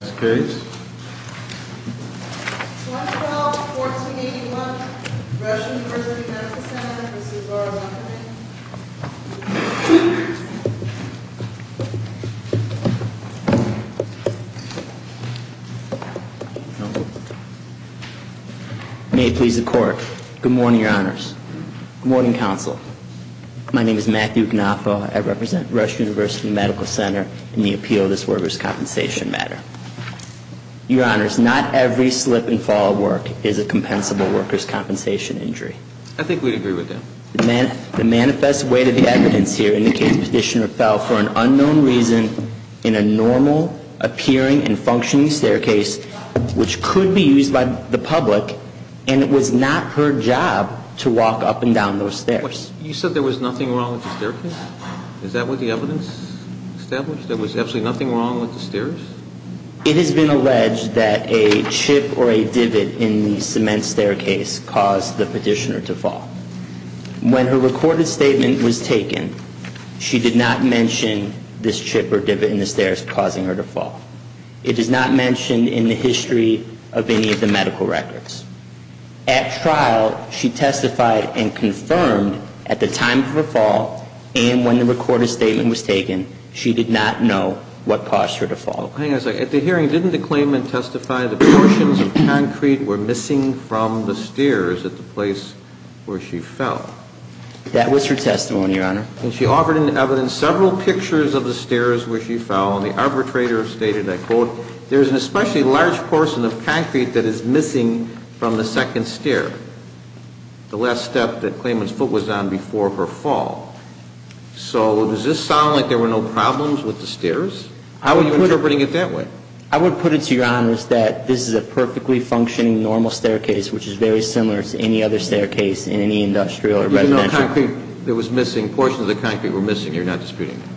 May it please the court. Good morning, your honors. Good morning, counsel. My name is Matthew Gnafa. I represent Rush University Medical Center in the appeal of this workers' compensation matter. Your honors, not every slip and fall of work is a compensable workers' compensation injury. I think we'd agree with that. The manifest weight of the evidence here indicates Petitioner fell for an unknown reason in a normal appearing and functioning staircase which could be used by the public and it was not her job to walk up and down those stairs. You said there was nothing wrong with the staircase? Is that what the evidence established? There was absolutely nothing wrong with the stairs? It has been alleged that a chip or a divot in the cement staircase caused the Petitioner to fall. When her recorded statement was taken, she did not mention this chip or divot in the stairs causing her to fall. It is not mentioned in the history of any of the medical records. At trial, she testified and confirmed at the time of her fall and when the recorded statement was taken, she did not know what caused her to fall. Hang on a second. At the hearing, didn't the claimant testify that portions of concrete were missing from the stairs at the place where she fell? That was her testimony, your honor. And she offered in the evidence several pictures of the stairs where she fell and the arbitrator stated, I quote, there is an the last step that the claimant's foot was on before her fall. So does this sound like there were no problems with the stairs? Are you interpreting it that way? I would put it to your honors that this is a perfectly functioning normal staircase which is very similar to any other staircase in any industrial or residential. There was no concrete that was missing. Portions of the concrete were missing. You're not disputing that?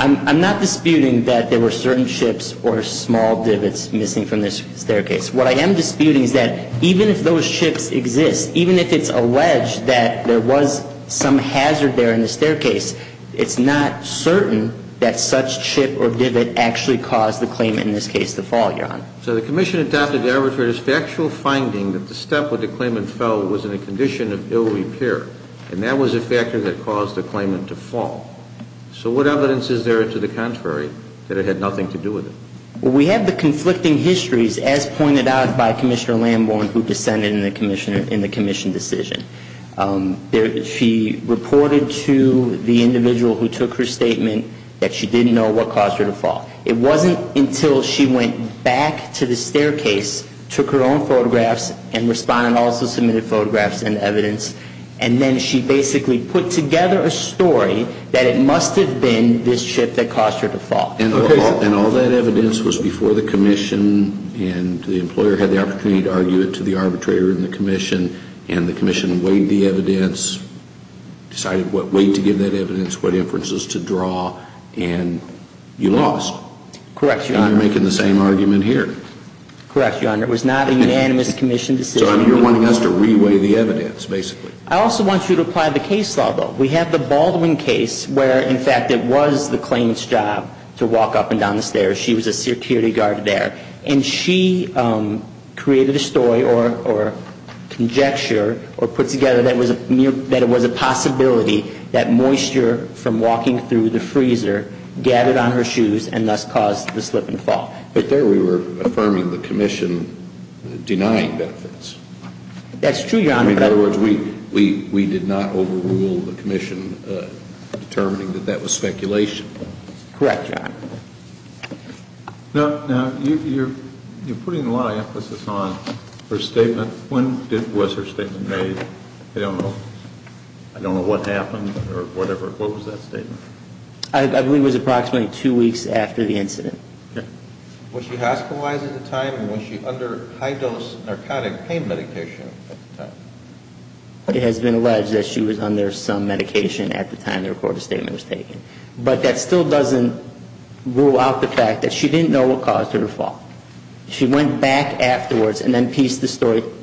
I'm not disputing that there were certain chips or small divots missing from this staircase. What I am disputing is that even if those chips exist, even if it's alleged that there was some hazard there in the staircase, it's not certain that such chip or divot actually caused the claimant, in this case, to fall, your honor. So the commission adopted the arbitrator's factual finding that the step where the claimant fell was in a condition of ill repair and that was a factor that caused the claimant to fall. So what evidence is there to the contrary that it had nothing to do with it? Well, we have the conflicting histories as pointed out by Commissioner Lambourne who dissented in the commission decision. She reported to the individual who took her statement that she didn't know what caused her to fall. It wasn't until she went back to the staircase, took her own photographs and respondent also submitted photographs and evidence, and then she basically put together a story that it must have been this chip that caused her to fall. And all that evidence was before the commission and the employer had the opportunity to argue it to the arbitrator in the commission and the commission weighed the evidence, decided what weight to give that evidence, what inferences to draw, and you lost. Correct, your honor. And you're making the same argument here. Correct, your honor. It was not a unanimous commission decision. So you're wanting us to re-weigh the evidence, basically. I also want you to apply the case law, though. We have the Baldwin case where, in fact, it was the claimant's job to walk up and down the stairs. She was a security guard there. And she created a story or conjecture or put together that it was a possibility that moisture from walking through the freezer gathered on her shoes and thus caused the slip and fall. But there we were affirming the commission denying benefits. That's true, your honor. In other words, we did not overrule the commission determining that that was speculation. Correct, your honor. Now, you're putting a lot of emphasis on her statement. When was her statement made? I don't know. I don't know what happened or whatever. What was that statement? I believe it was approximately two weeks after the incident. Was she hospitalized at the time or was she under high-dose narcotic pain medication at the time? It has been alleged that she was under some medication at the time the recorded statement was taken. But that still doesn't rule out the fact that she didn't know what caused her to fall. She went back afterwards and then pieced the story together.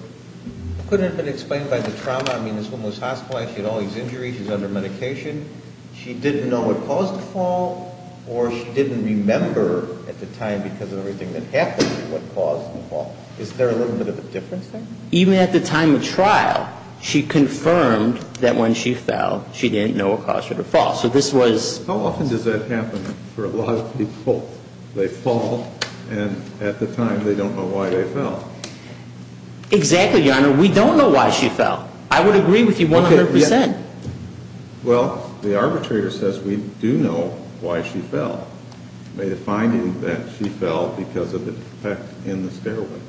Couldn't it have been explained by the trauma? I mean, this woman was hospitalized. She had all these injuries. She was under medication. She didn't know what caused the fall or she didn't remember at the time because of everything that happened what caused the fall. Is there a little bit of a difference there? Even at the time of trial, she confirmed that when she fell, she didn't know what caused her to fall. So this was... How often does that happen for a lot of people? They fall and at the time they don't know why they fell. Exactly, your honor. We don't know why she fell. I would agree with you 100%. Well, the arbitrator says we do know why she fell. By the finding that she fell because of the defect in the stairway.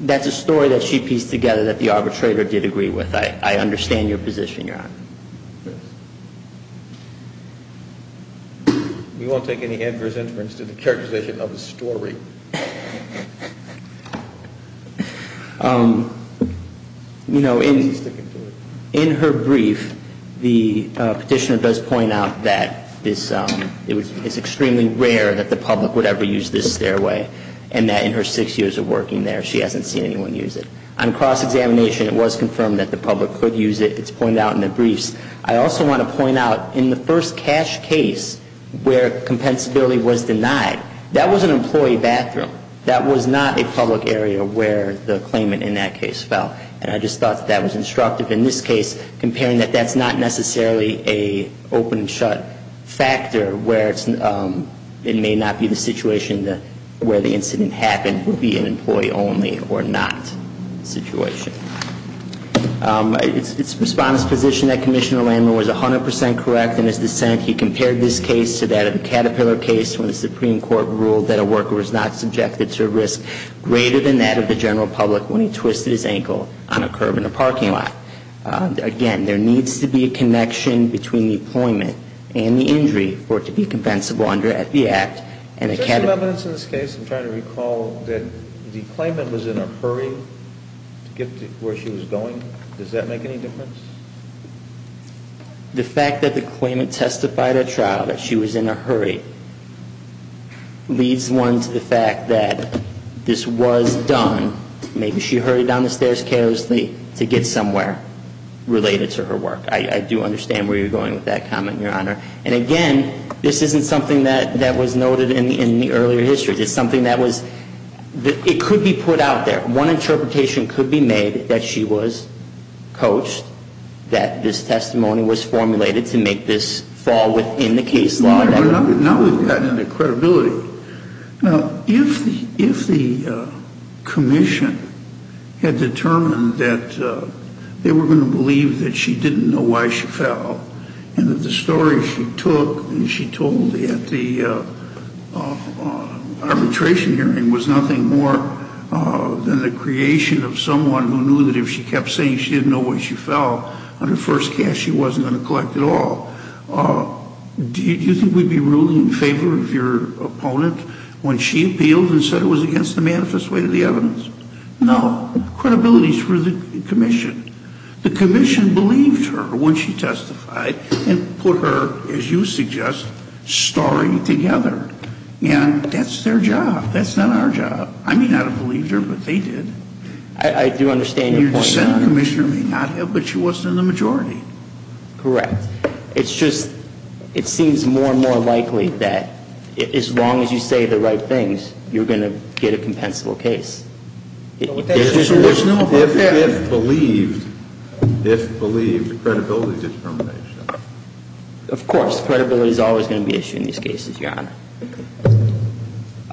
That's a story that she pieced together that the arbitrator did agree with. I understand your position, your honor. Yes. We won't take any adverse influence to the characterization of the story. You know, in her brief, the petitioner does point out that it's extremely rare that the public would ever use this stairway. And that in her six years of working there, she hasn't seen anyone use it. On cross-examination, it was confirmed that the public could use it. It's pointed out in the briefs. I also want to point out, in the first cash case where compensability was denied, that was an employee badly injured. That was not a public area where the claimant in that case fell. And I just thought that was instructive in this case, comparing that that's not necessarily an open-and-shut factor, where it may not be the situation where the incident happened, would be an employee-only or not situation. It's the respondent's position that Commissioner Landrum was 100% correct in his dissent. He compared this case to that of the Caterpillar case, when the Supreme Court ruled that a worker was not subjected to a risk greater than that of the general public when he twisted his ankle on a curb in a parking lot. Again, there needs to be a connection between the employment and the injury for it to be compensable under the Act. Is there some evidence in this case, I'm trying to recall, that the claimant was in a hurry to get to where she was going? Does that make any difference? The fact that the claimant testified at trial that she was in a hurry leads one to the fact that this was done. Maybe she hurried down the stairs carelessly to get somewhere related to her work. I do understand where you're going with that comment, Your Honor. And again, this isn't something that was noted in the earlier history. It's something that was, it could be put out there. One interpretation could be made that she was coached that this testimony was formulated to make this fall within the case law. Now we've gotten into credibility. Now, if the commission had determined that they were going to believe that she didn't know why she fell, and that the story she took and she told at the arbitration hearing was nothing more than the creation of someone who knew that if she kept saying she didn't know why she fell on her first case, she wasn't going to collect at all, do you think we'd be ruling in favor of your opponent when she appealed and said it was against the manifest way of the evidence? No. Credibility is for the commission. The commission believed her when she testified and put her, as you suggest, story together. And that's their job. That's not our job. I may not have believed her, but they did. I do understand your point. Your dissent, Commissioner, may not have, but she wasn't in the majority. Correct. It's just, it seems more and more likely that as long as you say the right things, you're going to get a compensable case. If believed, credibility discrimination. Of course. Credibility is always going to be issued in these cases, Your Honor.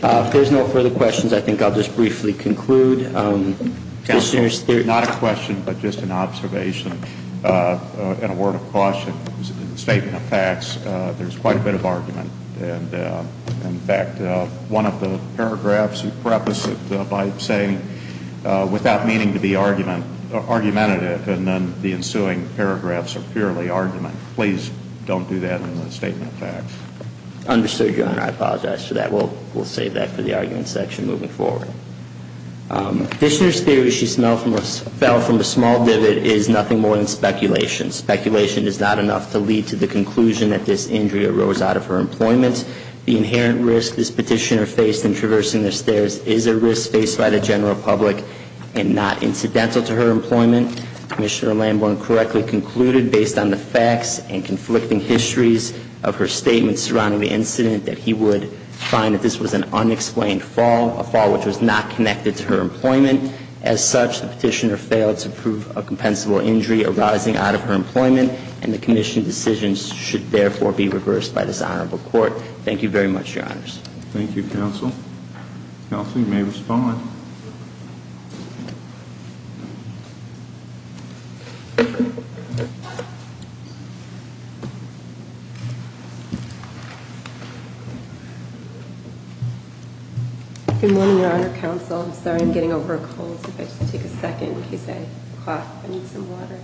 If there's no further questions, I think I'll just briefly conclude. Not a question, but just an observation, and a word of caution in the statement of facts. There's quite a bit of argument. In fact, one of the paragraphs you preface it by saying without meaning to be argumentative, and then the ensuing paragraphs are purely argument. Please don't do that in the statement of facts. Understood, Your Honor. I apologize for that. We'll save that for the argument section moving forward. Petitioner's theory she fell from a small divot is nothing more than speculation. Speculation is not enough to lead to the conclusion that this injury arose out of her employment. The inherent risk this petitioner faced in traversing the stairs is a risk faced by the general public and not incidental to her employment. Commissioner Lamborn correctly concluded, based on the facts and conflicting histories of her statements surrounding the incident, that he would find that this was an unexplained fall, a fall which was not connected to her employment. As such, the petitioner failed to prove a compensable injury arising out of her employment, and the commission decisions should therefore be reversed by this Honorable Court. Thank you very much, Your Honors. Thank you, Counsel. Counsel, you may respond. Good morning, Your Honor, Counsel. I'm sorry I'm getting over a cold. If I could just take a second in case I cough. I need some water.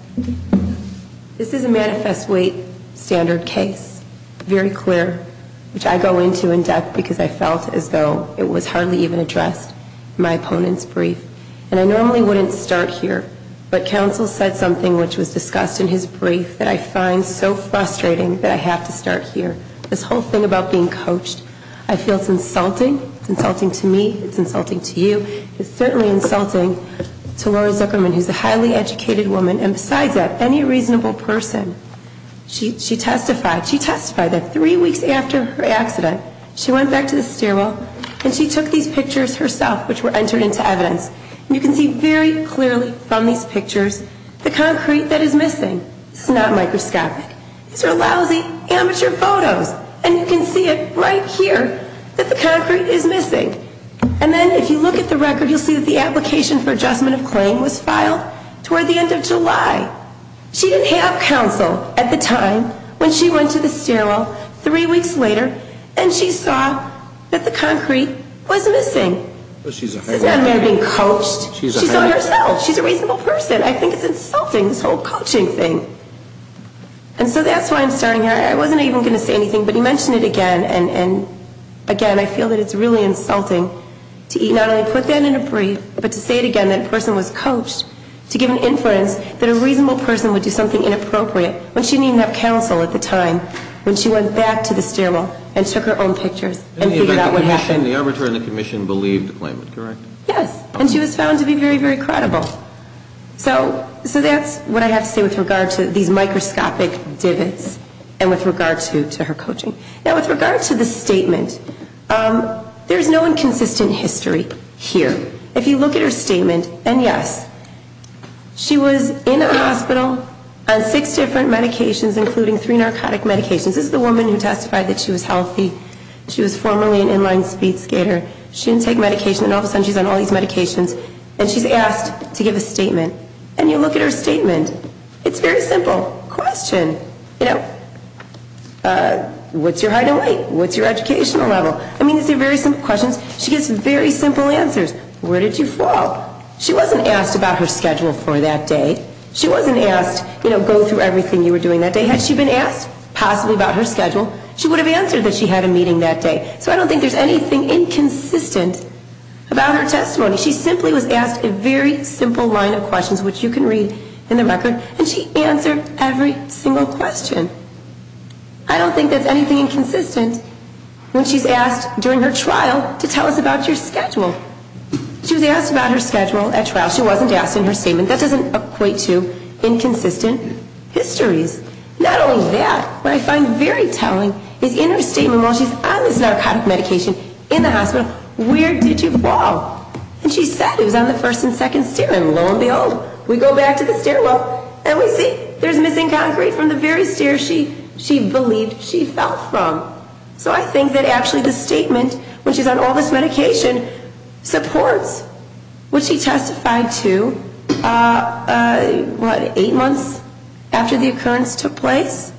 This is a manifest weight standard case, very clear, which I go into in depth because I felt as though it was hardly even addressed in my opponent's brief. And I normally wouldn't start here, but Counsel said something which was discussed in his brief, that I find so frustrating that I have to start here, this whole thing about being coached. I feel it's insulting. It's insulting to me. It's insulting to you. It's certainly insulting to Lori Zuckerman, who's a highly educated woman, and besides that, any reasonable person. She testified. She testified that three weeks after her accident, she went back to the stairwell and she took these pictures herself, which were entered into evidence. You can see very clearly from these pictures the concrete that is missing. It's not microscopic. These are lousy, amateur photos, and you can see it right here that the concrete is missing. And then if you look at the record, you'll see that the application for adjustment of claim was filed toward the end of July. She didn't have counsel at the time when she went to the stairwell three weeks later, and she saw that the concrete was missing. It's not about being coached. She saw it herself. She's a reasonable person. I think it's insulting, this whole coaching thing. And so that's why I'm starting here. I wasn't even going to say anything, but he mentioned it again, and, again, I feel that it's really insulting to not only put that in a brief, but to say it again, that a person was coached, to give an inference that a reasonable person would do something inappropriate when she didn't even have counsel at the time when she went back to the stairwell and took her own pictures and figured out what happened. The arbiter and the commission believed the claimant, correct? Yes. And she was found to be very, very credible. So that's what I have to say with regard to these microscopic divots and with regard to her coaching. Now, with regard to the statement, there's no inconsistent history here. If you look at her statement, and yes, she was in a hospital on six different medications, including three narcotic medications. This is the woman who testified that she was healthy. She was formerly an inline speed skater. She didn't take medication, and all of a sudden she's on all these medications, and she's asked to give a statement. And you look at her statement. It's a very simple question. You know, what's your height and weight? What's your educational level? I mean, these are very simple questions. She gives very simple answers. Where did you fall? She wasn't asked about her schedule for that day. She wasn't asked, you know, go through everything you were doing that day. Had she been asked possibly about her schedule, she would have answered that she had a meeting that day. So I don't think there's anything inconsistent about her testimony. She simply was asked a very simple line of questions, which you can read in the record, and she answered every single question. I don't think there's anything inconsistent when she's asked during her trial to tell us about your schedule. She was asked about her schedule at trial. She wasn't asked in her statement. That doesn't equate to inconsistent histories. Not only that, what I find very telling is in her statement while she's on this narcotic medication in the hospital, where did you fall? And she said it was on the first and second stair, and lo and behold, we go back to the stairwell, and we see there's missing concrete from the very stair she believed she fell from. So I think that actually the statement, when she's on all this medication, supports what she testified to, what, eight months after the occurrence took place?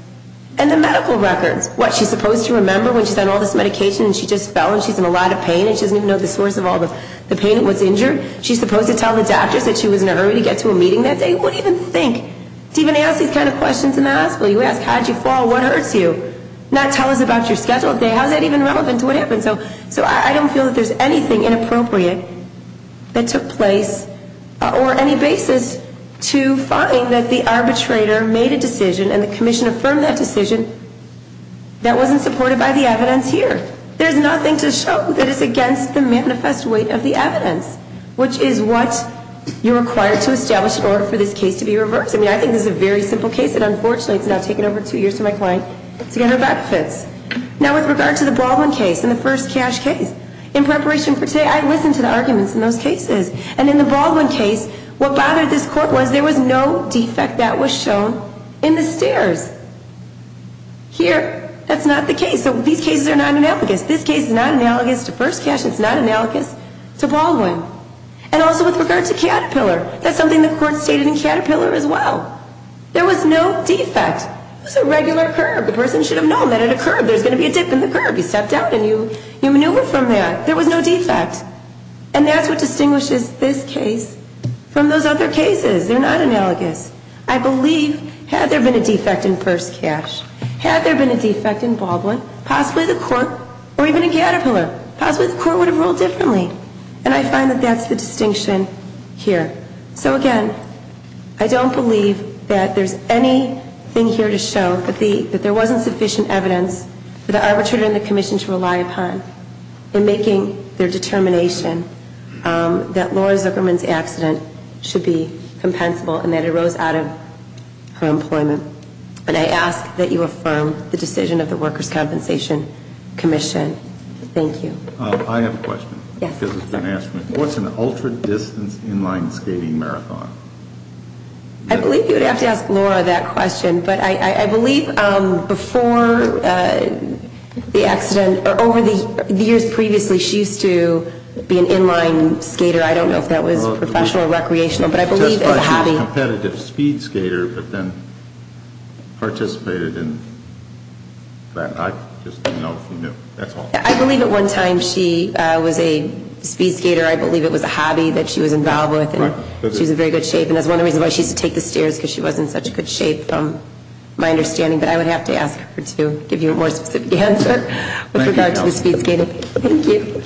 And the medical records, what, she's supposed to remember when she's on all this medication and she just fell and she's in a lot of pain and she doesn't even know the source of all the pain and what's injured? She's supposed to tell the doctors that she was in a hurry to get to a meeting that day? Who would even think to even ask these kind of questions in the hospital? You ask how did you fall, what hurts you? Not tell us about your schedule that day. How is that even relevant to what happened? So I don't feel that there's anything inappropriate that took place or any basis to find that the arbitrator made a decision and the commission affirmed that decision that wasn't supported by the evidence here. There's nothing to show that it's against the manifest weight of the evidence, which is what you're required to establish in order for this case to be reversed. I mean, I think this is a very simple case, and unfortunately it's now taken over two years for my client to get her back fits. Now with regard to the Baldwin case and the first cash case, in preparation for today I listened to the arguments in those cases, and in the Baldwin case what bothered this court was there was no defect that was shown in the stairs. Here, that's not the case. So these cases are not analogous. This case is not analogous to first cash and it's not analogous to Baldwin. And also with regard to Caterpillar, that's something the court stated in Caterpillar as well. There was no defect. It was a regular curb. The person should have known that at a curb there's going to be a dip in the curb. You step down and you maneuver from that. There was no defect. And that's what distinguishes this case from those other cases. They're not analogous. I believe had there been a defect in first cash, had there been a defect in Baldwin, possibly the court, or even in Caterpillar, possibly the court would have ruled differently. And I find that that's the distinction here. So, again, I don't believe that there's anything here to show that there wasn't sufficient evidence for the arbitrator and the commission to rely upon in making their determination that Laura Zuckerman's accident should be compensable and that it arose out of her employment. And I ask that you affirm the decision of the Workers' Compensation Commission. Thank you. I have a question because it's been asked. What's an ultra-distance inline skating marathon? I believe you would have to ask Laura that question. But I believe before the accident or over the years previously, she used to be an inline skater. I don't know if that was professional or recreational. But I believe as a hobby. She was a competitive speed skater but then participated in that. I just didn't know if you knew. I believe at one time she was a speed skater. I believe it was a hobby that she was involved with. She was in very good shape. And that's one of the reasons why she used to take the stairs because she was in such good shape from my understanding. But I would have to ask her to give you a more specific answer with regard to the speed skating. Thank you.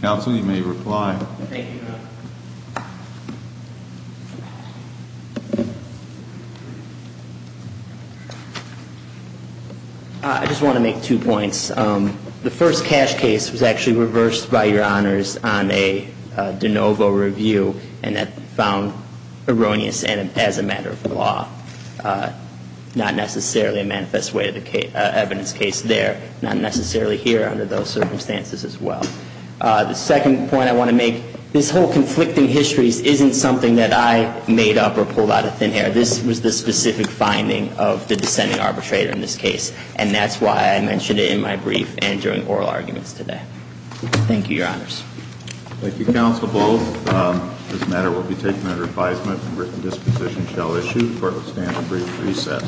Counsel, you may reply. Thank you. I just want to make two points. The first cash case was actually reversed by your honors on a de novo review. And that found erroneous as a matter of law. Not necessarily a manifest way of evidence case there. Not necessarily here under those circumstances as well. The second point I want to make, this whole conflicting histories isn't something that I made up or pulled out of thin air. This was the specific finding of the dissenting arbitrator in this case. And that's why I mentioned it in my brief and during oral arguments today. Thank you, your honors. Thank you, Counsel Bowles. This matter will be taken under advisement and written disposition shall issue. Court will stand at brief recess.